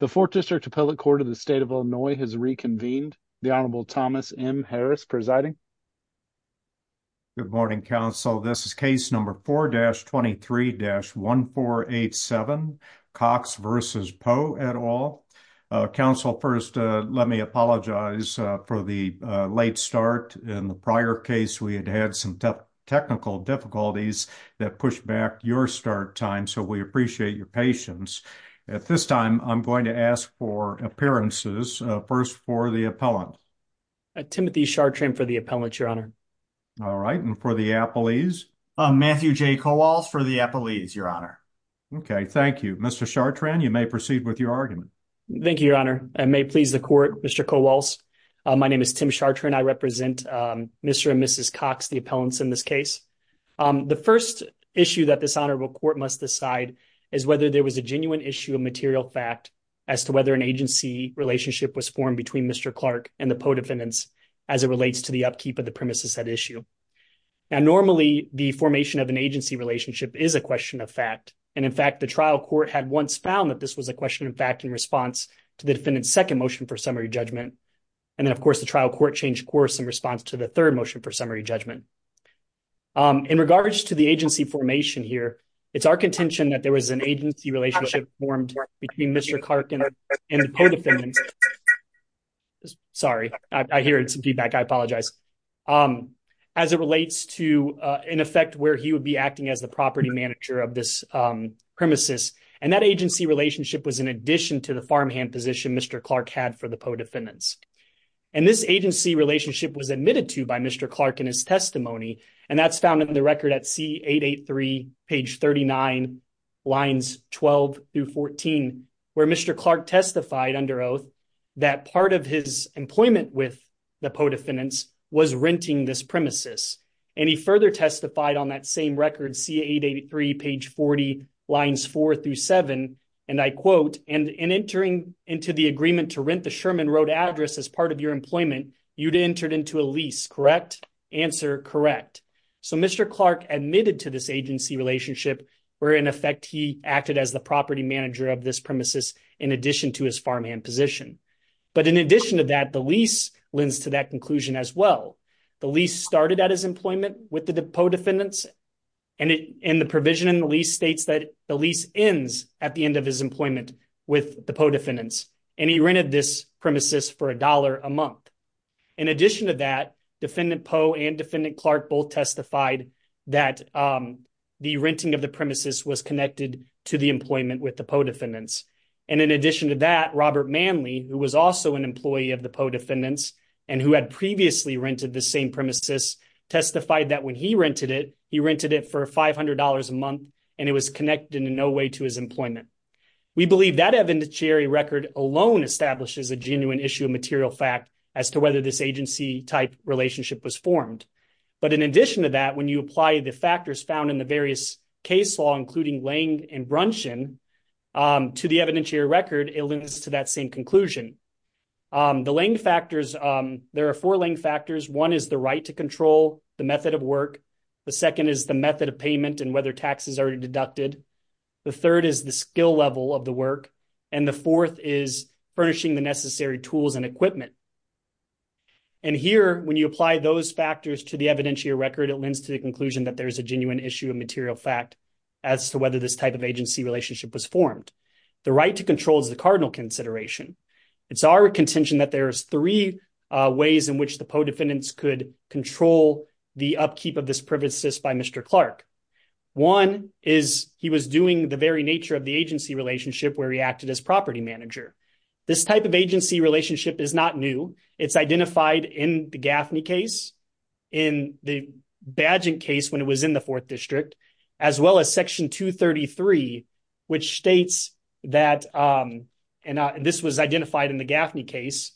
The Fourth District Appellate Court of the State of Illinois has reconvened. The Honorable Thomas M. Harris presiding. Good morning, counsel. This is case number 4-23-1487, Cox v. Poe et al. Counsel, first, let me apologize for the late start. In the prior case, we had had some technical difficulties that pushed back your start time, so we appreciate your patience. At this time, I'm going to ask for appearances. First, for the appellant. Timothy Chartrand for the appellant, Your Honor. All right, and for the appellees? Matthew J. Kowals for the appellees, Your Honor. Okay, thank you. Mr. Chartrand, you may proceed with your argument. Thank you, Your Honor. And may it please the Court, Mr. Kowals, my name is Tim Chartrand. I represent Mr. and Mrs. Cox, the appellants in this case. The first issue that this Honorable Court must decide is whether there was a genuine issue of material fact as to whether an agency relationship was formed between Mr. Clark and the Poe defendants as it relates to the upkeep of the premises at issue. Now, normally, the formation of an agency relationship is a question of fact, and in fact, the trial court had once found that this was a question of fact in response to the defendant's second motion for summary judgment. And then, of course, the trial court changed course in response to the third motion for summary judgment. In regards to the agency formation here, it's our contention that there was an agency relationship formed between Mr. Clark and the Poe defendants. Sorry, I hear some feedback. I apologize. As it relates to an effect where he would be acting as the property manager of this premises, and that agency relationship was in addition to the farmhand position Mr. Clark had for the Poe defendants. And this agency relationship was admitted to by Mr. Clark in his testimony, and that's found in the record at C883, page 39, lines 12 through 14, where Mr. Clark testified under oath that part of his employment with the Poe defendants was renting this premises. And he further testified on that same record, C883, page 40, lines 4 through 7, and I quote, and in entering into the agreement to rent the Sherman Road address as part of your employment, you'd entered into a lease, correct? Answer, correct. So Mr. Clark admitted to this agency relationship where in effect he acted as the property manager of this premises in addition to his farmhand position. But in addition to that, the lease lends to that conclusion as well. The lease started at his employment with the Poe defendants, and the provision in the lease states that the lease ends at the end of his employment with the Poe defendants, and he rented this premises for $1 a month. In addition to that, Defendant Poe and Defendant Clark both testified that the renting of the premises was connected to the employment with the Poe defendants. And in addition to that, Robert Manley, who was also an employee of the Poe defendants and who had previously rented the same premises, testified that when he rented it, he rented it for $500 a month, and it was connected in no way to his employment. We believe that evidentiary record alone establishes a genuine issue of material fact as to whether this agency type relationship was formed. But in addition to that, when you apply the factors found in the various case law, including Lange and Brunson, to the evidentiary record, it lends to that same conclusion. The Lange factors, there are four Lange factors. One is the right to control the method of work. The second is the method of payment and whether taxes are deducted. The third is the skill level of the work. And the fourth is furnishing the necessary tools and equipment. And here, when you apply those factors to the evidentiary record, it lends to the conclusion that there is a genuine issue of material fact as to whether this type of agency relationship was formed. The right to control is the cardinal consideration. It's our contention that there is three ways in which the Poe defendants could control the upkeep of this by Mr. Clark. One is he was doing the very nature of the agency relationship where he acted as property manager. This type of agency relationship is not new. It's identified in the Gaffney case, in the badging case when it was in the 4th District, as well as Section 233, which states that, and this was identified in the Gaffney case,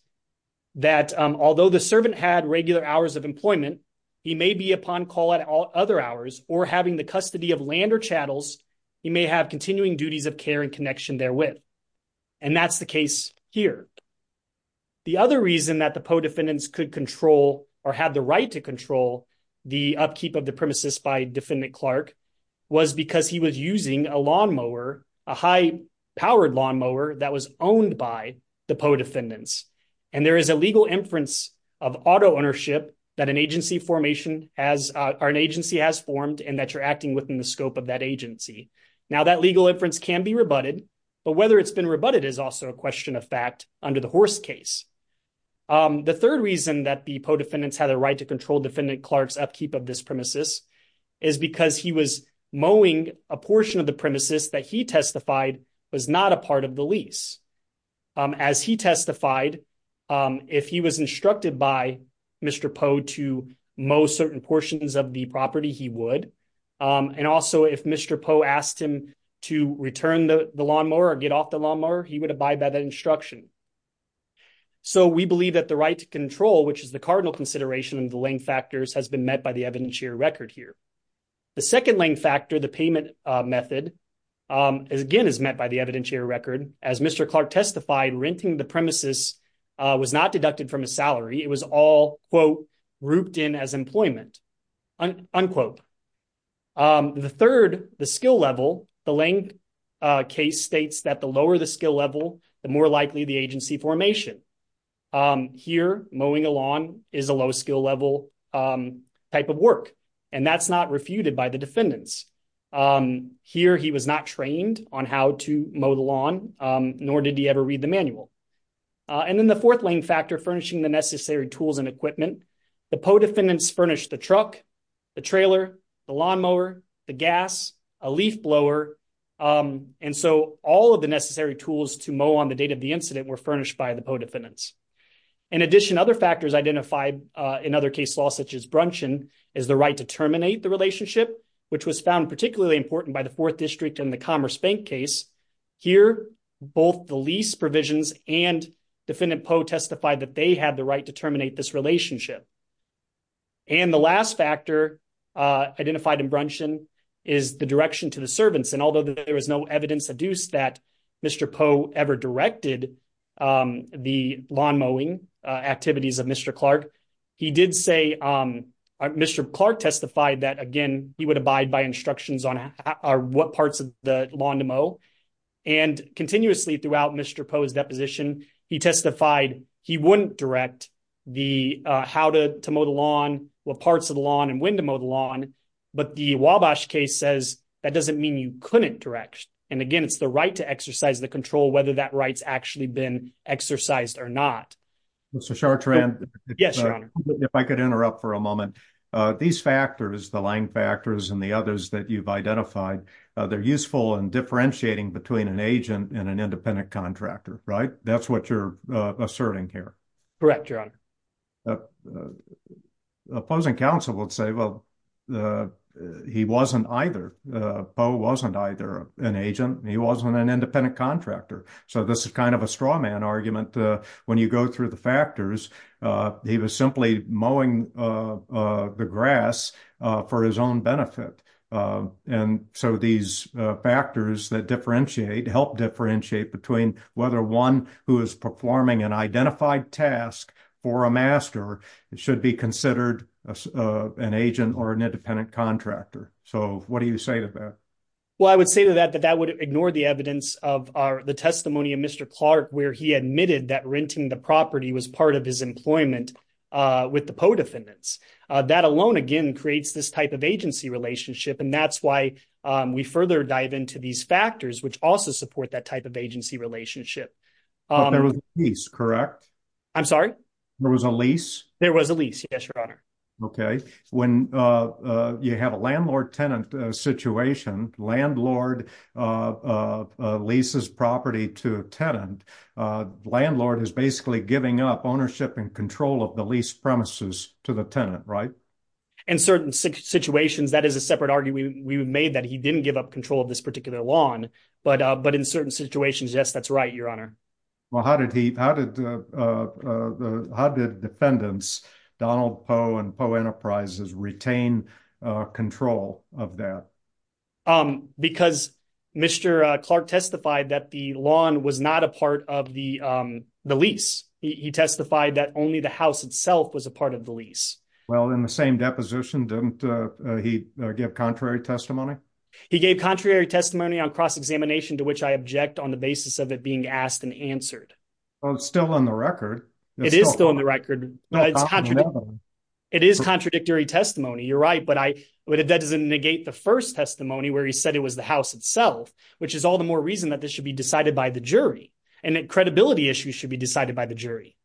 that although the servant had regular hours of employment, he may be upon call at other hours or having the custody of land or chattels, he may have continuing duties of care and connection therewith. And that's the case here. The other reason that the Poe defendants could control or had the right to control the upkeep of the premises by Defendant Clark was because he was using a lawnmower, a high-powered lawnmower that was owned by the Poe defendants. And there is a legal inference of auto ownership that an agency has formed and that you're acting within the scope of that agency. Now, that legal inference can be rebutted, but whether it's been rebutted is also a question of fact under the Horse case. The third reason that the Poe defendants had the right to control Defendant Clark's upkeep of this premises is because he was mowing a portion of the premises that he testified was not a part of the lease. As he testified, if he was instructed by Mr. Poe to mow certain portions of the property, he would. And also, if Mr. Poe asked him to return the lawnmower or get off the lawnmower, he would abide by that instruction. So, we believe that the right to control, which is the cardinal consideration of the length factors, has been met by the evidentiary record here. The second length factor, the payment method, again, is met by the evidentiary record. As Mr. Clark testified, renting the premises was not deducted from his salary. It was all, quote, rooped in as employment, unquote. The third, the skill level, the length case states that the lower the skill level, the more likely the agency formation. Here, mowing a lawn is a skill level type of work, and that's not refuted by the defendants. Here, he was not trained on how to mow the lawn, nor did he ever read the manual. And then the fourth length factor, furnishing the necessary tools and equipment. The Poe defendants furnished the truck, the trailer, the lawnmower, the gas, a leaf blower. And so, all of the necessary tools to mow on the date of the incident were furnished by the Poe defendants. In addition, other factors identified in other case laws such as Bruncheon is the right to terminate the relationship, which was found particularly important by the Fourth District in the Commerce Bank case. Here, both the lease provisions and Defendant Poe testified that they had the right to terminate this relationship. And the last factor identified in Bruncheon is the direction to the servants. And although there is no evidence adduced that Mr. Poe ever directed the lawn mowing activities of Mr. Clark, he did say Mr. Clark testified that, again, he would abide by instructions on what parts of the lawn to mow. And continuously throughout Mr. Poe's deposition, he testified he wouldn't direct the how to mow the lawn, what parts of the lawn, and when to mow the lawn. But the Wabash case says that doesn't mean you couldn't direct. And again, it's the right to exercise the control whether that right's actually been exercised or not. Mr. Chartrand, if I could interrupt for a moment. These factors, the Lang factors and the others that you've identified, they're useful in differentiating between an agent and an independent contractor, right? That's what you're asserting here. Correct, Your Honor. Opposing counsel would say, well, he wasn't either. Poe wasn't either an agent. He wasn't an independent contractor. So this is kind of a straw man argument. When you go through the factors, he was simply mowing the grass for his own benefit. And so these factors that differentiate, help differentiate between whether one who is performing an identified task for a master should be considered an agent or an independent contractor. So what do you say to that? Well, I would say to that, that that would ignore the evidence of the testimony of Mr. Clark, where he admitted that renting the property was part of his employment with the Poe defendants. That alone, again, creates this type of agency relationship. And that's why we further dive into these factors, which also support that type of agency relationship. There was a lease, correct? I'm sorry? There was a lease? There was a lease. Yes, Your Honor. Okay. When you have a landlord-tenant situation, landlord leases property to a tenant, landlord is basically giving up ownership and control of the lease premises to the tenant, right? In certain situations, that is a separate argument. We made that he didn't give up control of this Well, how did the defendants, Donald Poe and Poe Enterprises, retain control of that? Because Mr. Clark testified that the lawn was not a part of the lease. He testified that only the house itself was a part of the lease. Well, in the same deposition, didn't he give contrary testimony? He gave contrary testimony on cross-examination, to which I on the basis of it being asked and answered. Well, it's still on the record. It is still on the record. It is contradictory testimony. You're right. But that doesn't negate the first testimony where he said it was the house itself, which is all the more reason that this should be decided by the jury. And that credibility issues should be decided by the jury.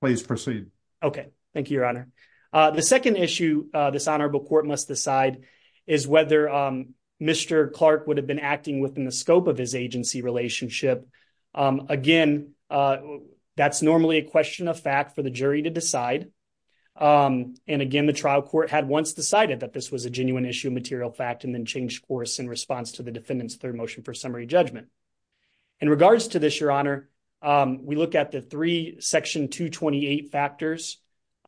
Please proceed. Okay. Thank you, Your Honor. The second issue this honorable court must decide is whether Mr. Clark would have been acting within the scope of his agency relationship. Again, that's normally a question of fact for the jury to decide. And again, the trial court had once decided that this was a genuine issue of material fact and then changed course in response to the defendant's third motion for summary judgment. In regards to this, Your Honor, we look at the three Section 228 factors.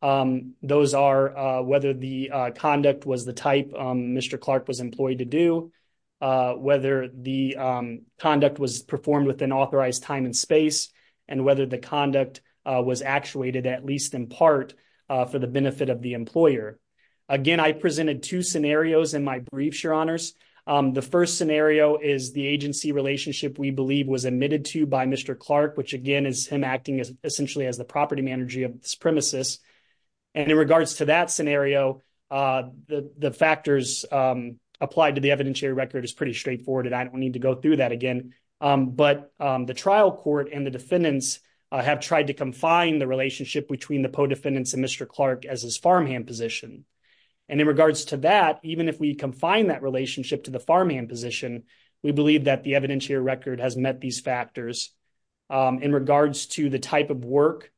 Those are whether the conduct was the type Mr. Clark was employed to do, whether the conduct was performed within authorized time and space, and whether the conduct was actuated at least in part for the benefit of the employer. Again, I presented two scenarios in my briefs, Your Honors. The first scenario is the agency relationship we was admitted to by Mr. Clark, which again is him acting essentially as the property manager of the supremacist. And in regards to that scenario, the factors applied to the evidentiary record is pretty straightforward, and I don't need to go through that again. But the trial court and the defendants have tried to confine the relationship between the podefendants and Mr. Clark as his farmhand position. And in regards to that, even if we confine that relationship to the farmhand position, we believe that the evidentiary record has met these factors. In regards to the type of work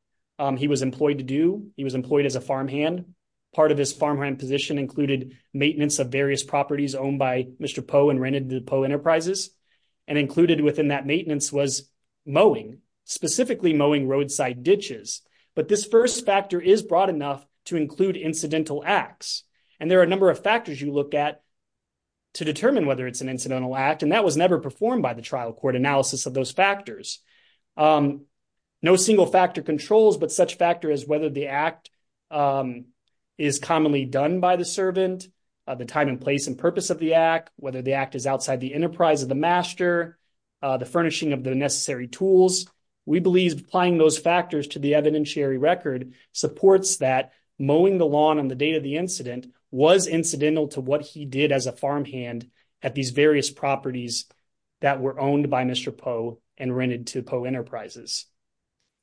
he was employed to do, he was employed as a farmhand. Part of his farmhand position included maintenance of various properties owned by Mr. Poe and rented to the Poe Enterprises, and included within that maintenance was mowing, specifically mowing roadside ditches. But this first factor is broad enough to include incidental acts, and there are a number of factors you look at to determine whether it's an incidental act, and that was never performed by the trial court analysis of those factors. No single factor controls, but such factor as whether the act is commonly done by the servant, the time and place and purpose of the act, whether the act is outside the enterprise of the master, the furnishing of the necessary tools. We believe applying those factors to the evidentiary record supports that mowing the lawn on the date of the was incidental to what he did as a farmhand at these various properties that were owned by Mr. Poe and rented to Poe Enterprises.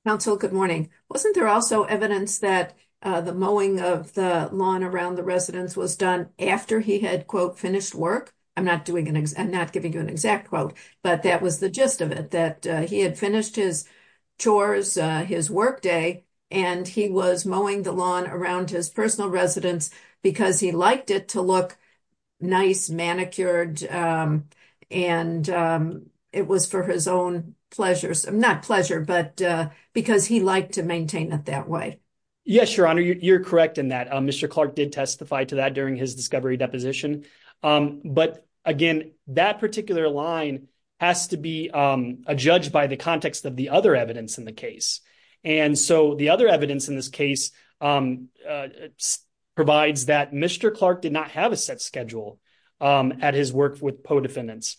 Counsel, good morning. Wasn't there also evidence that the mowing of the lawn around the residence was done after he had, quote, finished work? I'm not giving you an exact quote, but that was the gist of it, that he had finished his chores, his workday, and he was mowing the lawn around his personal residence because he liked it to look nice, manicured, and it was for his own pleasure. Not pleasure, but because he liked to maintain it that way. Yes, Your Honor, you're correct in that. Mr. Clark did testify to that during his discovery deposition. But again, that particular line has to be adjudged by the context of the other evidence in the case. The other evidence in this case provides that Mr. Clark did not have a set schedule at his work with Poe defendants.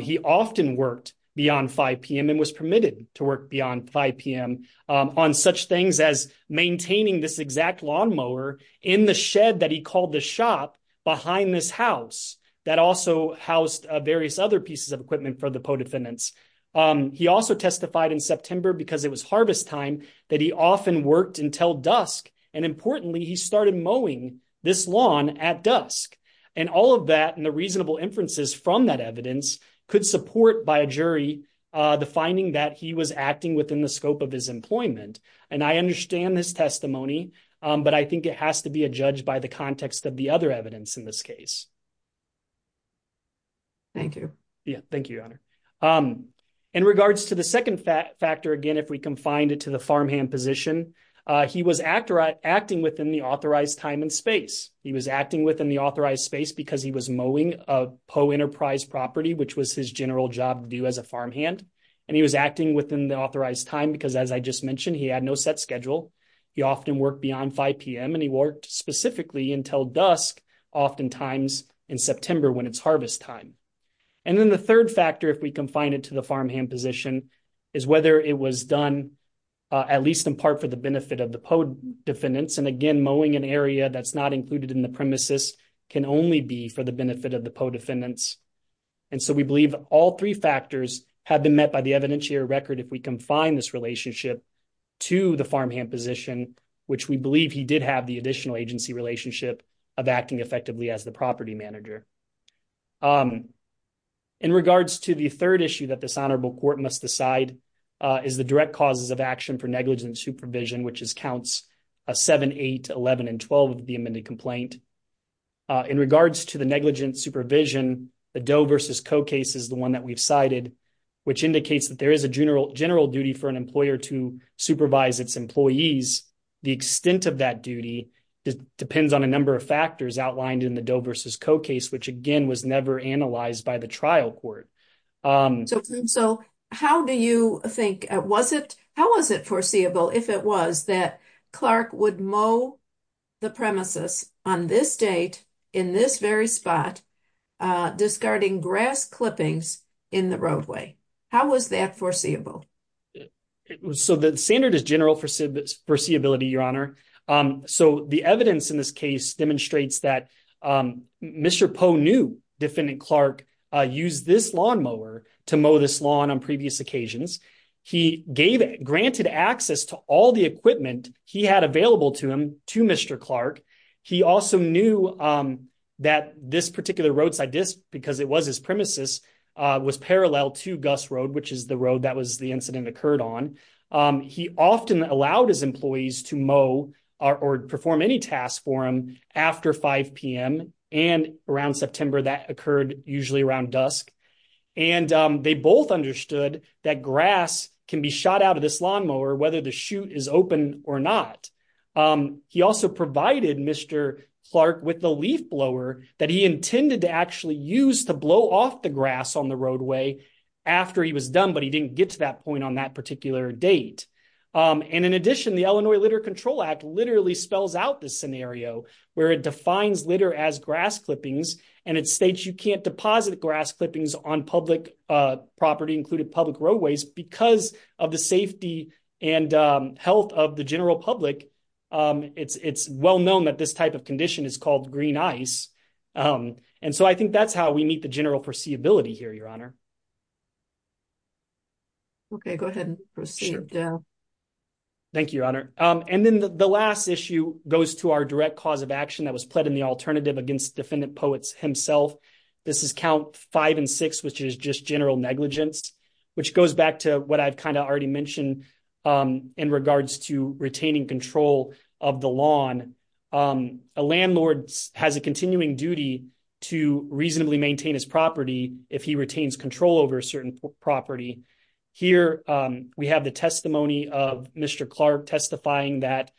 He often worked beyond 5 p.m. and was permitted to work beyond 5 p.m. on such things as maintaining this exact lawnmower in the shed that he called the shop behind this house that also housed various other pieces of equipment for the Poe defendants. He also testified in September, because it was harvest time, that he often worked until dusk. And importantly, he started mowing this lawn at dusk. And all of that and the reasonable inferences from that evidence could support by a jury the finding that he was acting within the scope of his employment. And I understand his testimony, but I think it has to be adjudged by the context of the other evidence in this case. Thank you. Yeah, thank you, Your Honor. In regards to the second factor, again, if we can find it to the farmhand position, he was acting within the authorized time and space. He was acting within the authorized space because he was mowing a Poe Enterprise property, which was his general job to do as a farmhand. And he was acting within the authorized time because, as I just mentioned, he had no set schedule. He often worked beyond 5 p.m. and he worked specifically until dusk, oftentimes in September when it's harvest time. And then the third factor, if we can find it to the farmhand position, is whether it was done at least in part for the benefit of the Poe defendants. And again, mowing an area that's not included in the premises can only be for the benefit of the Poe defendants. And so we believe all three factors have been met by the evidentiary record if we confine this relationship to the farmhand position, which we believe he did have the agency relationship of acting effectively as the property manager. In regards to the third issue that this honorable court must decide is the direct causes of action for negligent supervision, which counts 7, 8, 11, and 12 of the amended complaint. In regards to the negligent supervision, the Doe versus Coe case is the one that we've cited, which indicates that there is a general duty for an employer to supervise its employees. The extent of that duty depends on a number of factors outlined in the Doe versus Coe case, which again was never analyzed by the trial court. So how do you think, was it, how was it foreseeable if it was that Clark would mow the premises on this date, in this very spot, discarding grass clippings in the roadway? How was that foreseeable? So the standard is general foreseeability, Your Honor. So the evidence in this case demonstrates that Mr. Poe knew defendant Clark used this lawn mower to mow this lawn on previous occasions. He gave, granted access to all the equipment he had available to him to Mr. Clark. He also knew that this particular roadside disk, because it was his premises, was parallel to Gus Road, which is the road that was the incident occurred on. He often allowed his employees to mow or perform any task for him after 5 p.m., and around September that occurred usually around dusk. And they both understood that grass can be shot out of this lawn mower, whether the chute is open or not. He also provided Mr. Clark with the leaf blower that he intended to actually use to blow off the grass on the roadway after he was done, but he didn't get to that point on that particular date. And in addition, the Illinois Litter Control Act literally spells out this scenario, where it defines litter as grass clippings, and it states you can't deposit grass clippings on public property, including public roadways, because of the safety and health of the general public. It's well known that this type of condition is green ice. And so I think that's how we meet the general perceivability here, Your Honor. Okay, go ahead and proceed. Thank you, Your Honor. And then the last issue goes to our direct cause of action that was pled in the alternative against defendant Poets himself. This is count five and six, which is just general negligence, which goes back to what I've kind of already mentioned in regards to retaining control of the lawn. A landlord has a continuing duty to reasonably maintain his property if he retains control over a certain property. Here, we have the testimony of Mr. Clark testifying that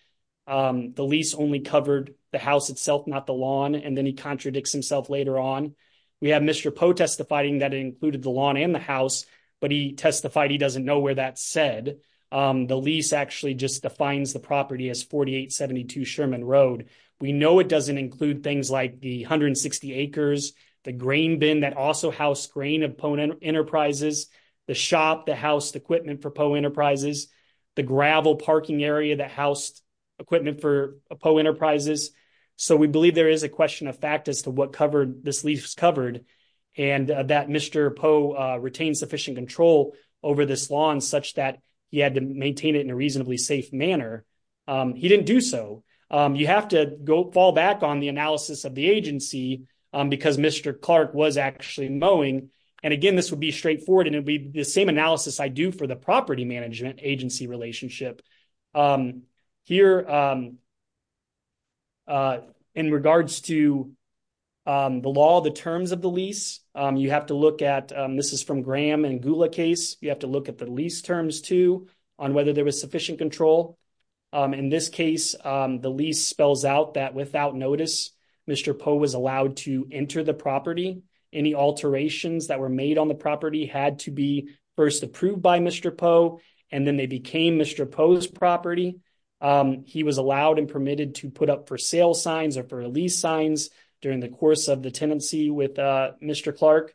the lease only covered the house itself, not the lawn, and then he contradicts himself later on. We have Mr. Poe testifying that included the lawn and the house, but he testified he doesn't know where that's said. The lease actually just defines the property as 4872 Sherman Road. We know it doesn't include things like the 160 acres, the grain bin that also housed grain of Poe Enterprises, the shop that housed equipment for Poe Enterprises, the gravel parking area that housed equipment for Poe Enterprises. So we believe there is a question of fact as to what this lease covered, and that Mr. Poe retained sufficient control over this lawn such that he had to maintain it in a reasonably safe manner. He didn't do so. You have to go fall back on the analysis of the agency because Mr. Clark was actually mowing. And again, this would be straightforward, and it'd be the same analysis I do for the property management agency relationship. Here, in regards to the law, the terms of the lease, you have to look at, this is from Graham and Gula case, you have to look at the lease terms too on whether there was sufficient control. In this case, the lease spells out that without notice, Mr. Poe was allowed to enter the property. Any alterations that were made on the property had to be first approved by Mr. Poe, and then they became Mr. Poe's property. He was allowed and permitted to put up for sale signs or for lease signs during the course of the tenancy with Mr. Clark.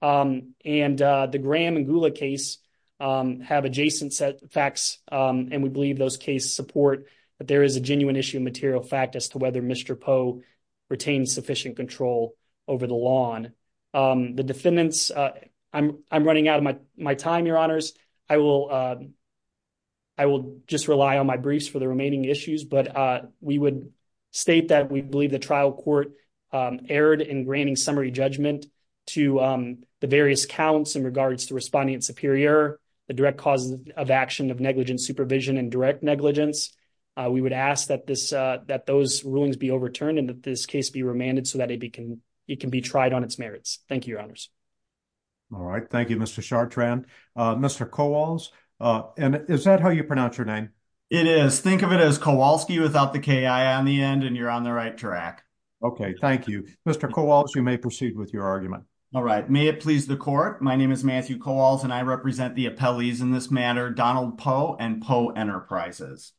And the Graham and Gula case have adjacent facts, and we believe those cases support that there is a genuine issue of material fact as to whether Mr. Poe retained sufficient control over the lawn. The defendants, I'm running out of my time, your honors. I will just rely on my briefs for the remaining issues, but we would state that we believe the trial court erred in granting summary judgment to the various counts in regards to responding in superior, the direct causes of action of negligent supervision and direct negligence. We would ask that those rulings be overturned and that this case be amended so that it can be tried on its merits. Thank you, your honors. All right. Thank you, Mr. Chartrand. Mr. Kowals, and is that how you pronounce your name? It is. Think of it as Kowalski without the K-I on the end, and you're on the right track. Okay. Thank you. Mr. Kowals, you may proceed with your argument. All right. May it please the court. My name is Matthew Kowals, and I represent the appellees in this matter, Donald Poe and Poe Enterprises.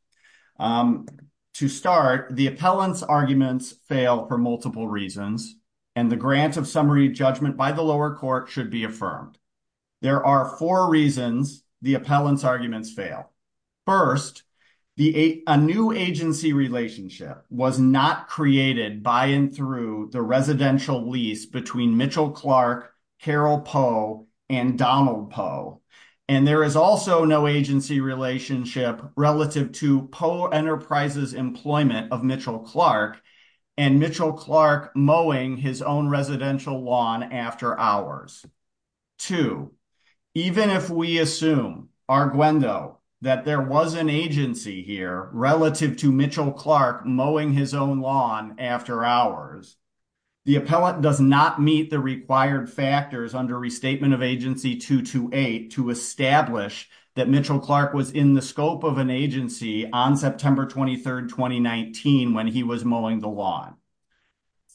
To start, the appellant's arguments fail for multiple reasons, and the grant of summary judgment by the lower court should be affirmed. There are four reasons the appellant's arguments fail. First, a new agency relationship was not created by and through the residential lease between Mitchell Clark, Carol Poe, and Donald Poe, and there is also no agency relationship relative to Poe Enterprises' employment of Mitchell Clark and Mitchell Clark mowing his own residential lawn after hours. Two, even if we assume, arguendo, that there was an agency here relative to Mitchell Clark mowing his own lawn after hours, the appellant does not meet the required factors under Restatement of Agency 228 to establish that Mitchell Clark was in the scope of an agency on September 23, 2019, when he was mowing the lawn.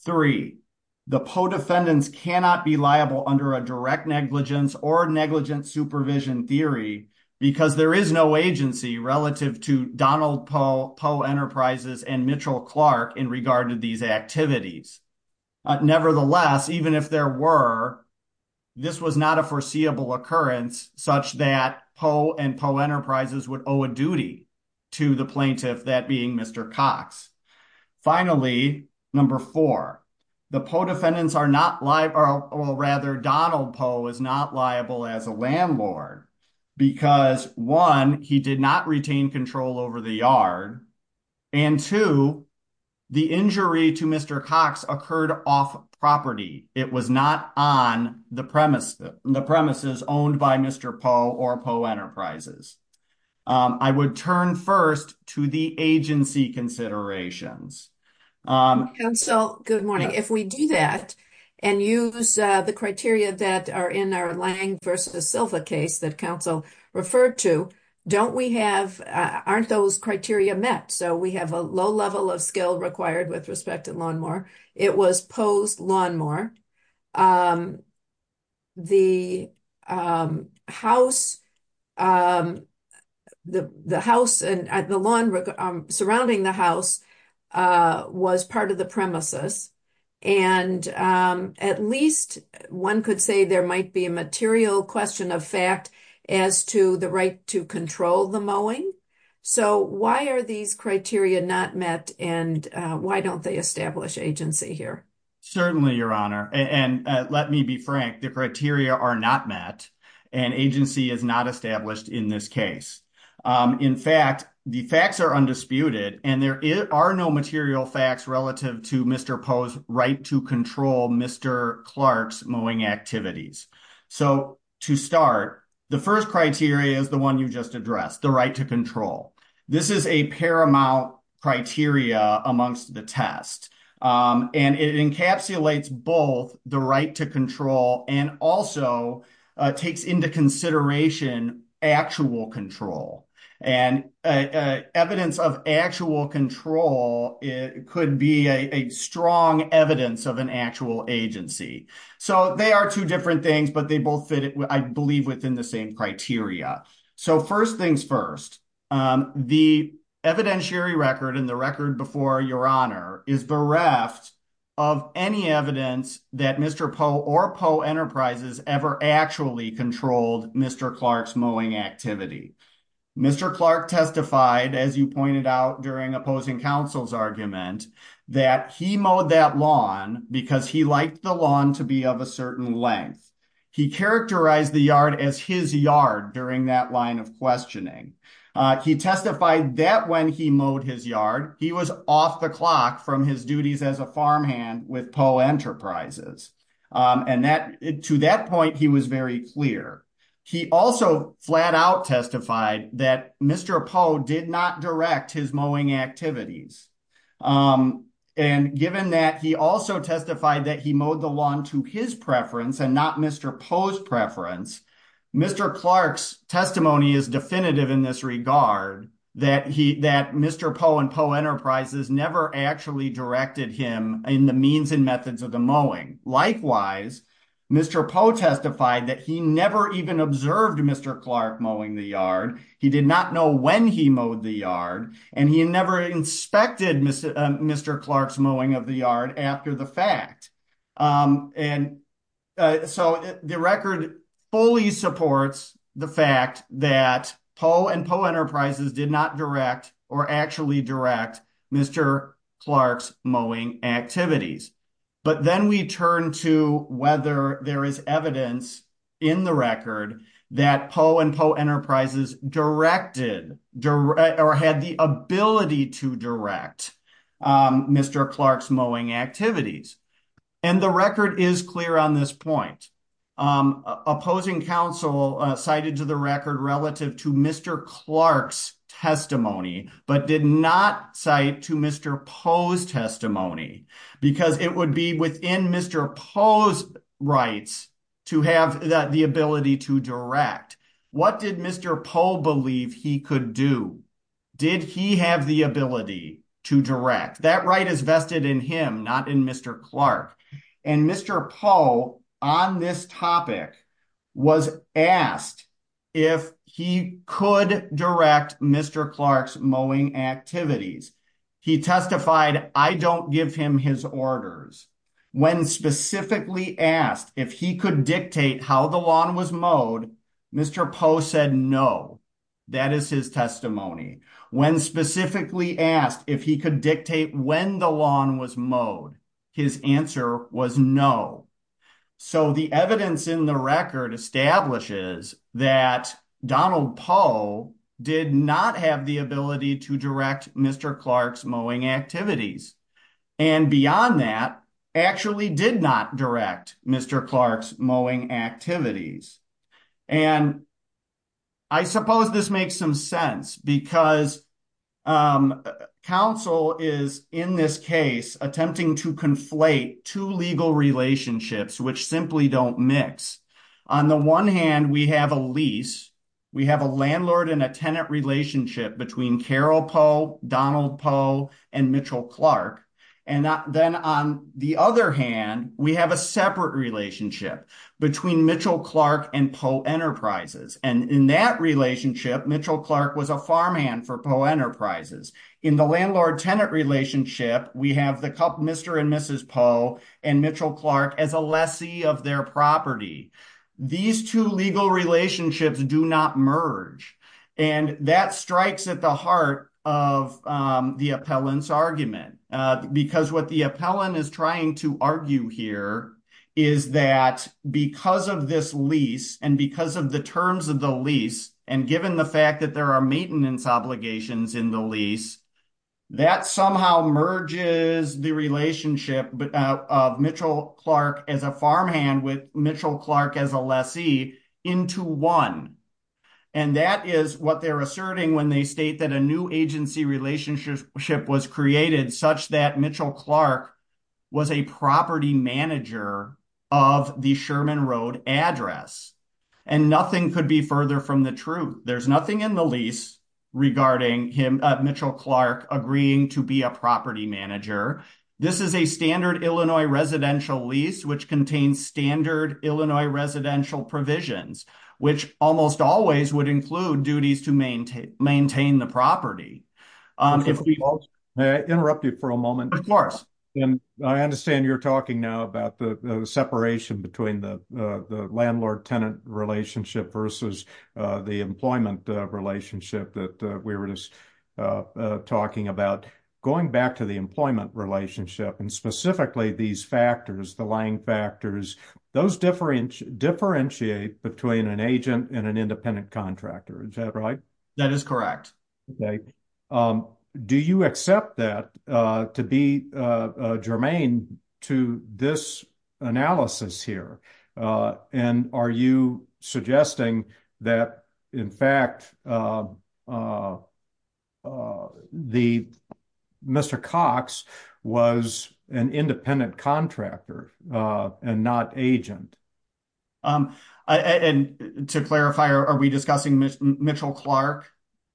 Three, the Poe defendants cannot be liable under a direct negligence or negligence supervision theory because there is no agency relative to Donald Poe, Poe Enterprises, and Mitchell Clark in regard to these activities. Nevertheless, even if there were, this was not a foreseeable occurrence such that Poe and Poe to the plaintiff, that being Mr. Cox. Finally, number four, the Poe defendants are not liable, or rather Donald Poe is not liable as a landlord because one, he did not retain control over the yard, and two, the injury to Mr. Cox occurred off property. It was not on the premises owned by Mr. or Poe Enterprises. I would turn first to the agency considerations. Counsel, good morning. If we do that and use the criteria that are in our Lang versus Silva case that counsel referred to, don't we have, aren't those criteria met? So we have a low level of required with respect to lawnmower. It was Poe's lawnmower. The house and the lawn surrounding the house was part of the premises. And at least one could say there might be a material question of as to the right to control the mowing. So why are these criteria not met and why don't they establish agency here? Certainly your honor. And let me be frank, the criteria are not met and agency is not established in this case. In fact, the facts are undisputed and there are no material facts relative to Mr. Poe's right to control Mr. Clark's mowing activities. So to start, the first criteria is the one you just addressed, the right to control. This is a paramount criteria amongst the test. And it encapsulates both the right to control and also takes into consideration actual control. And evidence of actual control, it could be a strong evidence of an actual agency. So they are two different things, but they both fit, I believe, within the same criteria. So first things first, the evidentiary record and the record before your honor is bereft of any evidence that Mr. Poe or Poe Enterprises ever actually controlled Mr. Clark's mowing activity. Mr. Clark testified, as you pointed out during opposing counsel's argument, that he mowed that lawn because he wanted the lawn to be of a certain length. He characterized the yard as his yard during that line of questioning. He testified that when he mowed his yard, he was off the clock from his duties as a farmhand with Poe Enterprises. And to that point, he was very clear. He also flat out testified that Mr. Poe did not direct his mowing activities. And given that, he also testified that he mowed the lawn to his preference and not Mr. Poe's preference. Mr. Clark's testimony is definitive in this regard that Mr. Poe and Poe Enterprises never actually directed him in the means and methods of the mowing. Likewise, Mr. Poe testified that he never even observed Mr. Clark mowing the yard. He did not know when he mowed the yard and he never inspected Mr. Clark's of the yard after the fact. And so the record fully supports the fact that Poe and Poe Enterprises did not direct or actually direct Mr. Clark's mowing activities. But then we turn to whether there is evidence in the record that Poe and Poe Enterprises directed or had the ability to direct Mr. Clark's mowing activities. And the record is clear on this point. Opposing counsel cited to the record relative to Mr. Clark's testimony but did not cite to Mr. Poe's testimony because it would be within Mr. Poe's rights to have the ability to direct. What did Mr. Poe believe he could do? Did he have the ability to direct? That right is vested in him not in Mr. Clark. And Mr. Poe on this topic was asked if he could direct Mr. Clark's mowing activities. He testified, I don't give him his orders. When specifically asked if he could dictate how the lawn was mowed, Mr. Poe said no. That is his testimony. When specifically asked if he could dictate when the lawn was mowed, his answer was no. So the evidence in the record establishes that Donald Poe did not have the ability to direct Mr. Clark's mowing activities. And beyond that actually did not direct Mr. Clark's mowing activities. And I suppose this makes some sense because counsel is in this case attempting to conflate two legal relationships which simply don't mix. On the one hand we have a lease, we have a landlord and a tenant relationship between Carol Poe, Donald Poe, and Mitchell Clark. And then on the other hand we have a separate relationship between Mitchell Clark and Poe Enterprises. And in that relationship Mitchell Clark was a farmhand for Poe Enterprises. In the landlord-tenant relationship we have the couple Mr. and Mrs. Poe and Mitchell Clark as a lessee of their property. These two legal relationships do not merge. And that strikes at the heart of the appellant's argument. Because what the appellant is trying to argue here is that because of this lease and because of the terms of the lease and given the fact that there are maintenance obligations in the lease, that somehow merges the relationship of Mitchell Clark as a farmhand with Mitchell Clark as a lessee into one. And that is what they're asserting when they state that a new agency relationship was created such that Mitchell Clark was a property manager of the Sherman Road address. And nothing could be further from the truth. There's nothing in the lease regarding Mitchell Clark agreeing to be a property manager. This is a standard Illinois residential lease which contains standard Illinois residential provisions, which almost always would include duties to maintain the property. If we all... May I interrupt you for a moment? Of course. And I understand you're talking now about the separation between the landlord-tenant relationship versus the employment relationship that we were just talking about. Going back to the employment relationship and specifically these factors, the lying factors, those differentiate between an agent and an independent contractor. Is that right? That is correct. Okay. Do you accept that to be germane to this analysis here? And are you suggesting that in fact Mr. Cox was an independent contractor and not agent? And to clarify, are we discussing Mitchell Clark,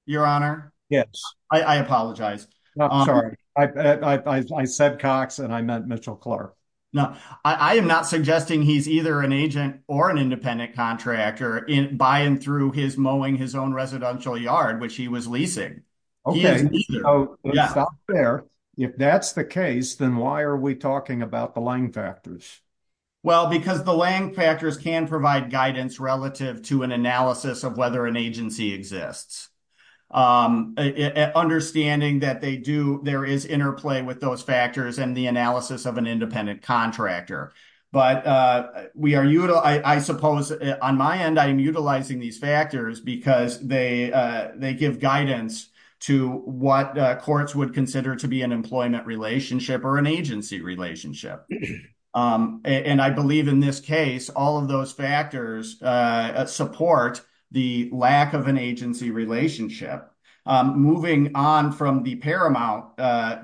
Your Honor? Yes. I apologize. Sorry. I said Cox and I meant Mitchell Clark. No. I am not suggesting he's either an agent or an independent contractor by and through his mowing his own residential yard, which he was leasing. Okay. Yeah. If that's the case, then why are we talking about the lying factors? Well, because the lying factors can provide guidance relative to an analysis of whether an agency exists. Understanding that there is interplay with those factors and the analysis of an independent contractor. But I suppose on my end, I'm utilizing these factors because they give guidance to what courts would consider to be an employment relationship or an agency relationship. And I believe in this case, all of those factors support the lack of an agency relationship. Moving on from the paramount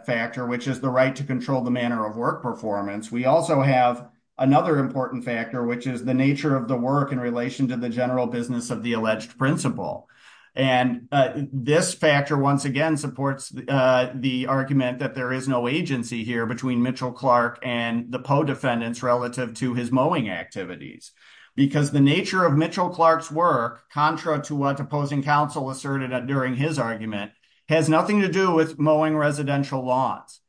factor, which is the right to control the manner of work performance, we also have another important factor, which is the nature of the work in relation to the general business of the alleged principle. And this factor, once again, supports the argument that there is no agency here between Mitchell Clark and the Poe defendants relative to his mowing activities. Because the nature of Mitchell Clark's work, contra to what opposing counsel asserted during his argument, has nothing to do with mowing residential lawns.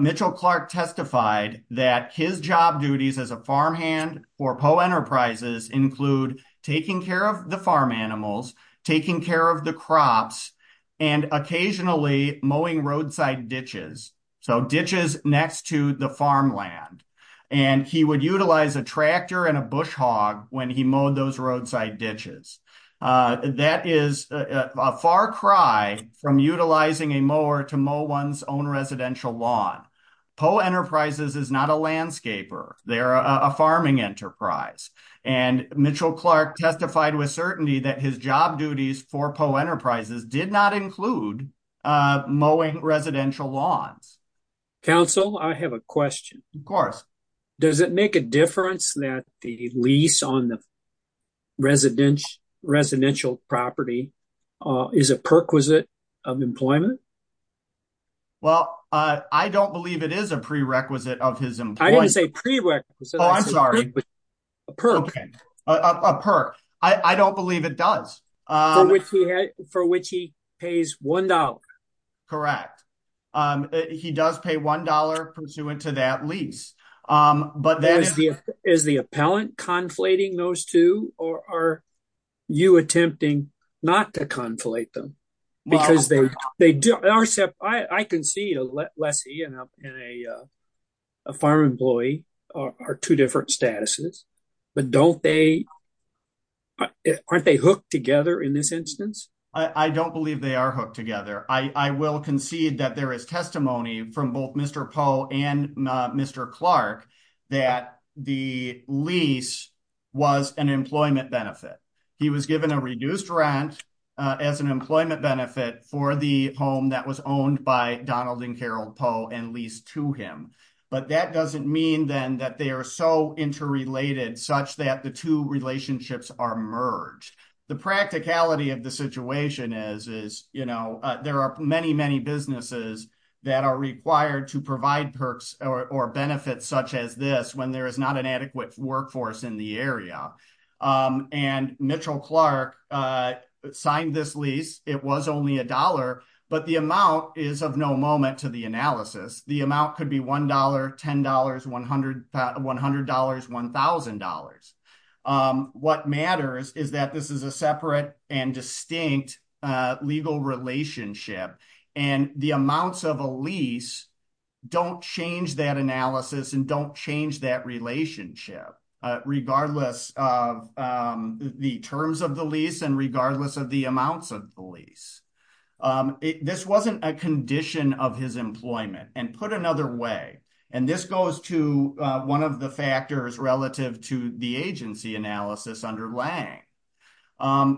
Mitchell Clark testified that his job duties as a farmhand for Poe Enterprises include taking care of the farm so ditches next to the farmland. And he would utilize a tractor and a bush hog when he mowed those roadside ditches. That is a far cry from utilizing a mower to mow one's own residential lawn. Poe Enterprises is not a landscaper. They're a farming enterprise. And Mitchell Clark testified with certainty that his job duties for Poe Enterprises did not include mowing residential lawns. Counsel, I have a question. Of course. Does it make a difference that the lease on the residential property is a perquisite of employment? Well, I don't believe it is a prerequisite of his employment. I didn't say prerequisite. Oh, I'm sorry. A perk. A perk. I don't believe it does. For which he pays $1. Correct. He does pay $1 pursuant to that lease. Is the appellant conflating those two or are you attempting not to conflate them? I can see a lessee and a farm employee are two different statuses. But aren't they hooked together in this instance? I don't believe they are hooked together. I will concede that there is testimony from both Mr. Poe and Mr. Clark that the lease was an employment benefit. He was given a reduced rent as an employment benefit for the home that was owned by Donald and Carol Poe and leased to him. But that doesn't mean then that they are so interrelated such that the two relationships are merged. The practicality of the situation is there are many, many businesses that are required to provide perks or benefits such as this when there is not an adequate workforce in the area. And Mitchell Clark signed this lease. It was only $1. But the amount is of no moment to the analysis. The amount could be $1, $10, $100, $1,000. What matters is that this is a separate and distinct legal relationship. And the amounts of a lease don't change that and don't change that relationship regardless of the terms of the lease and regardless of the amounts of the lease. This wasn't a condition of his employment. And put another way, and this goes to one of the factors relative to the agency analysis underlying,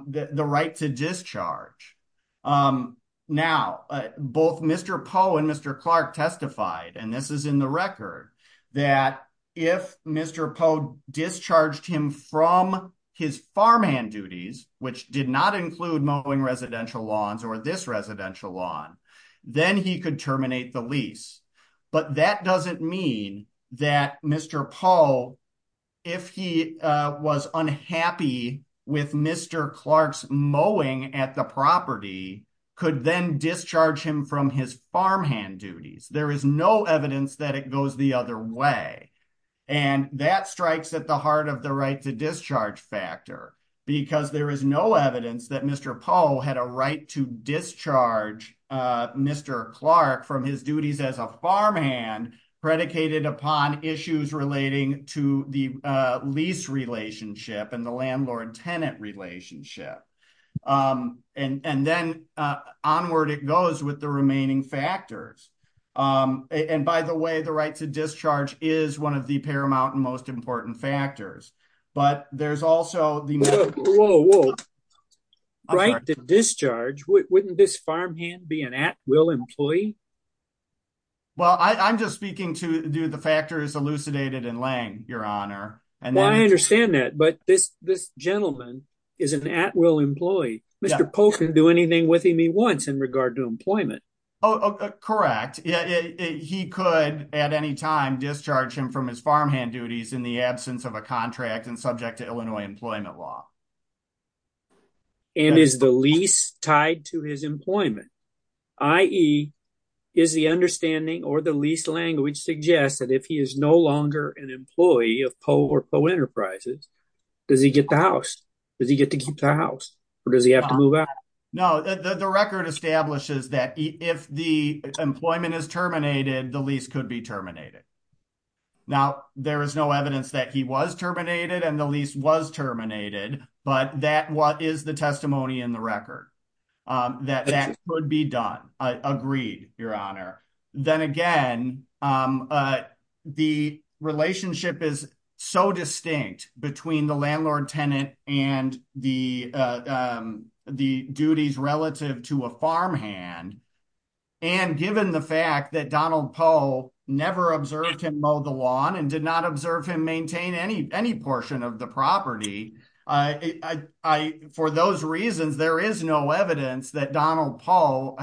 the right to discharge. Now, both Mr. Poe and Mr. Clark testified, and this is in the record, that if Mr. Poe discharged him from his farmhand duties, which did not include mowing residential lawns or this residential lawn, then he could terminate the lease. But that doesn't mean that Mr. Poe, if he was unhappy with Mr. Clark's mowing at the property, could then discharge him from his farmhand duties. There is no evidence that it goes the other way. And that strikes at the heart of the right to discharge factor because there is no evidence that Mr. Poe had a right to discharge Mr. Clark from his duties as a farmhand predicated upon issues relating to the lease relationship and the landlord-tenant relationship. And then onward it goes with the remaining factors. And by the way, the right to discharge is one of the paramount and most important factors in the right to discharge. Well, I'm just speaking to the factors elucidated in Lange, Your Honor. I understand that, but this gentleman is an at-will employee. Mr. Poe can do anything with him he wants in regard to employment. Oh, correct. He could at any time discharge him from his farmhand duties in the absence of a contract and subject to Illinois employment law. And is the lease tied to his employment, i.e. is the understanding or the lease language suggests that if he is no longer an employee of Poe or Poe Enterprises, does he get the house? Does he get to keep the house? Or does he have to move out? No, the record establishes that if the employment is terminated, the lease could be terminated. Now, there is no evidence that he was terminated and the lease was terminated, but that is the testimony in the record that that could be done. I agree, Your Honor. Then again, the relationship is so distinct between the landlord-tenant and the duties relative to a farmhand. And given the fact that Donald Poe never observed him mow the and did not observe him maintain any portion of the property, for those reasons, there is no evidence that Donald Poe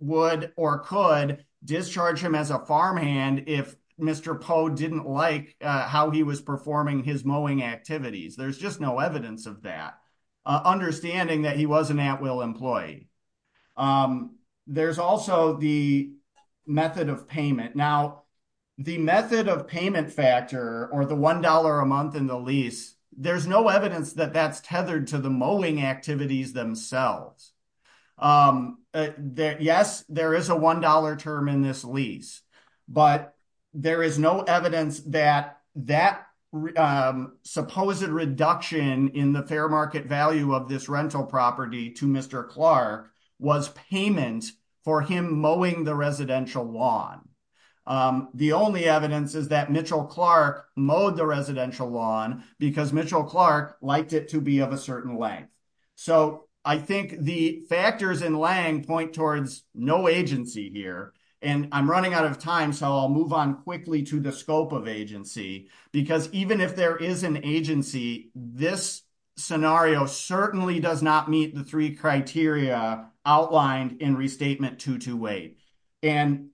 would or could discharge him as a farmhand if Mr. Poe didn't like how he was performing his mowing activities. There's just no evidence of that, understanding that he was an or the $1 a month in the lease, there's no evidence that that's tethered to the mowing activities themselves. Yes, there is a $1 term in this lease, but there is no evidence that that supposed reduction in the fair market value of this rental property to Mr. Clark was payment for him mowing the residential lawn. The only evidence is that Mitchell Clark mowed the residential lawn because Mitchell Clark liked it to be of a certain length. So, I think the factors in Lange point towards no agency here, and I'm running out of time, so I'll move on quickly to the scope of agency, because even if there is an agency, this scenario certainly does not meet the criteria outlined in Restatement 228. And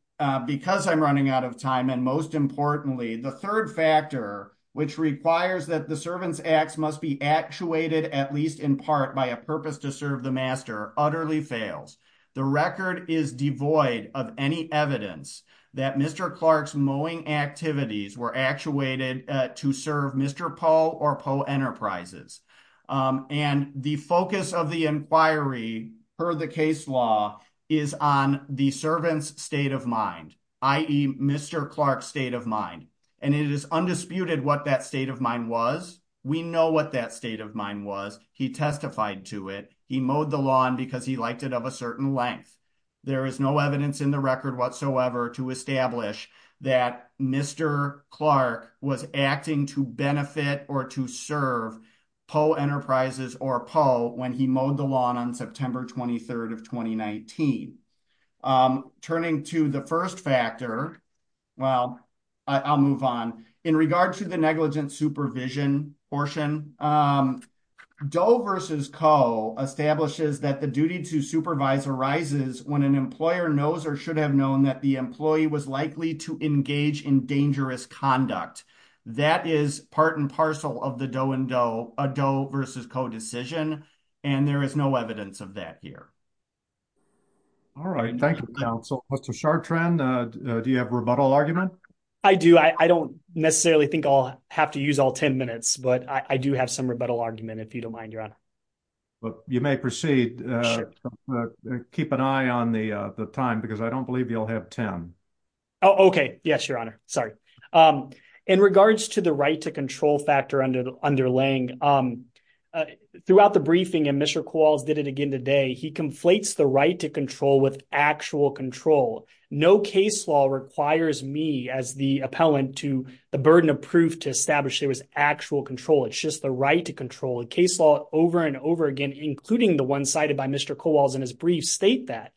because I'm running out of time, and most importantly, the third factor, which requires that the servant's acts must be actuated at least in part by a purpose to serve the master, utterly fails. The record is devoid of any evidence that Mr. Clark's mowing activities were actuated to serve Mr. Poe or Poe Enterprises. And the focus of the per the case law is on the servant's state of mind, i.e., Mr. Clark's state of mind. And it is undisputed what that state of mind was. We know what that state of mind was. He testified to it. He mowed the lawn because he liked it of a certain length. There is no evidence in the record whatsoever to establish that Mr. Clark was acting to benefit or to serve Poe Enterprises or Poe when he mowed the lawn on September 23rd of 2019. Turning to the first factor, well, I'll move on. In regard to the negligent supervision portion, Doe versus Coe establishes that the duty to supervise arises when an employer knows or should have known that the employee was likely to engage in dangerous conduct. That is part and parcel of the Doe and Doe, a Doe versus Coe decision, and there is no evidence of that here. All right. Thank you, counsel. Mr. Chartrand, do you have a rebuttal argument? I do. I don't necessarily think I'll have to use all 10 minutes, but I do have some rebuttal argument, if you don't mind, your honor. Well, you may proceed. Keep an eye on the time because I don't believe you'll have 10. Oh, okay. Yes, your honor. Sorry. In regards to the right to control factor underlying, throughout the briefing, and Mr. Kowals did it again today, he conflates the right to control with actual control. No case law requires me as the appellant to the burden of proof to establish there was actual control. It's just the right to control. A case law over and over again, including the one cited by Mr. Kowals in his brief, state that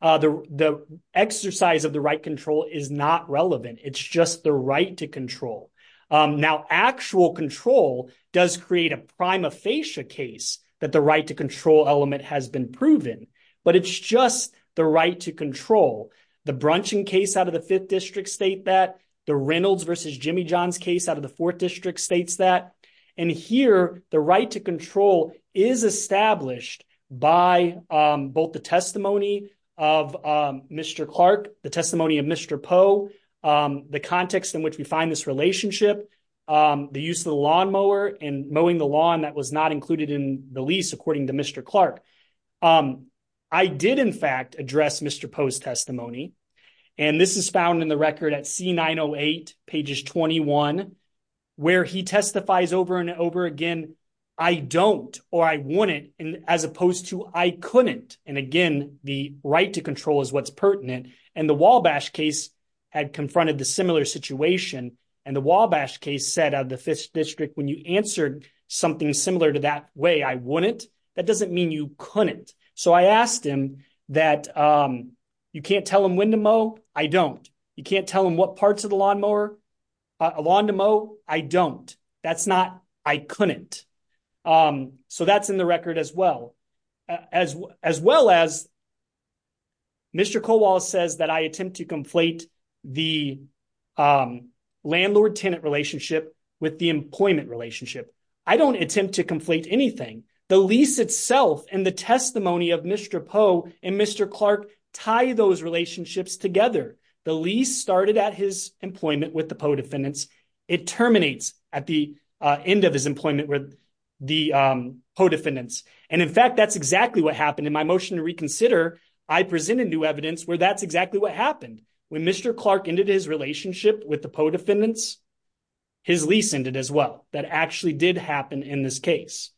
the exercise of the right control is not relevant. It's just the right to control. Now, actual control does create a prima facie case that the right to control element has been proven, but it's just the right to control. The Brunching case out of the Fifth District state that. The Reynolds versus Jimmy case out of the Fourth District states that. And here, the right to control is established by both the testimony of Mr. Clark, the testimony of Mr. Poe, the context in which we find this relationship, the use of the lawnmower, and mowing the lawn that was not included in the lease according to Mr. Clark. I did, in fact, address Mr. Poe's testimony, and this is found in the record at C908, pages 21, where he testifies over and over again, I don't or I wouldn't, as opposed to I couldn't. And again, the right to control is what's pertinent. And the Wabash case had confronted the similar situation. And the Wabash case said of the Fifth District, when you answered something similar to that way, I wouldn't. That doesn't mean you couldn't. So I asked him that you can't tell him when to mow, I don't. You can't tell him what parts of the lawnmower, a lawn to mow, I don't. That's not, I couldn't. So that's in the record as well. As well as Mr. Colwall says that I attempt to conflate the landlord tenant relationship with the employment relationship. I don't attempt to conflate anything. The lease itself and the testimony of Mr. Poe and Mr. Clark tie those relationships together. The lease started at his employment with the Poe defendants. It terminates at the end of his employment with the Poe defendants. And in fact, that's exactly what happened in my motion to reconsider. I presented new evidence where that's exactly what happened. When Mr. Clark ended his relationship with the Poe defendants, his lease ended as well. That actually did happen in this case.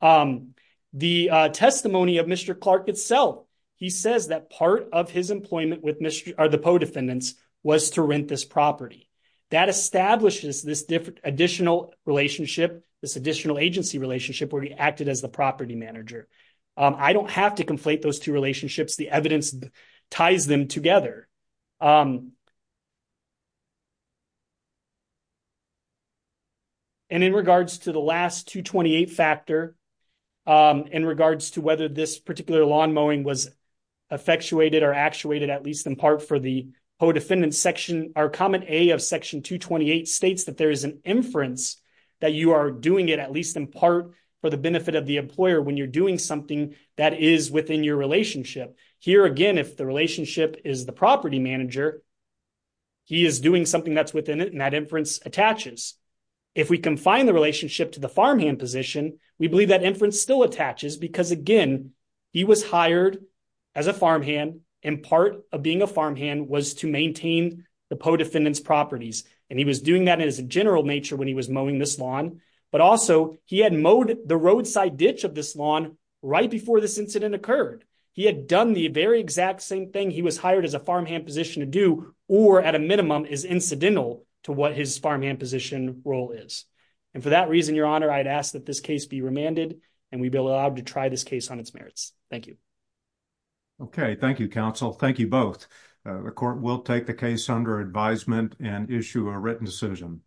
The testimony of Mr. Clark itself, he says that part of his employment with Mr. or the Poe defendants was to rent this property. That establishes this different additional relationship, this additional agency relationship where he acted as the property manager. I don't have to conflate those two relationships. The evidence ties them together. And in regards to the last 228 factor, in regards to whether this particular lawn mowing was effectuated or actuated at least in part for the Poe defendants section, our comment A of section 228 states that there is an inference that you are doing it at least in part for the benefit of the employer when you're doing something that is within your relationship. Here again, if the relationship is the property manager, he is doing something that's within it and that inference attaches. If we confine the relationship to the farmhand position, we believe that inference still attaches because again, he was hired as a farmhand and part of being a farmhand was to maintain the Poe defendants properties. And he was doing that in his general nature when he was mowing this lawn, but also he had mowed the roadside ditch of this lawn right before this incident occurred. He had done the very exact same thing. He was hired as a farmhand position to do, or at a minimum is incidental to what his farmhand position role is. And for that reason, your honor, I'd ask that this case be remanded and we'd be allowed to try this case on its merits. Thank you. Okay. Thank you, counsel. Thank you both. The court will take the case under advisement and issue a written decision.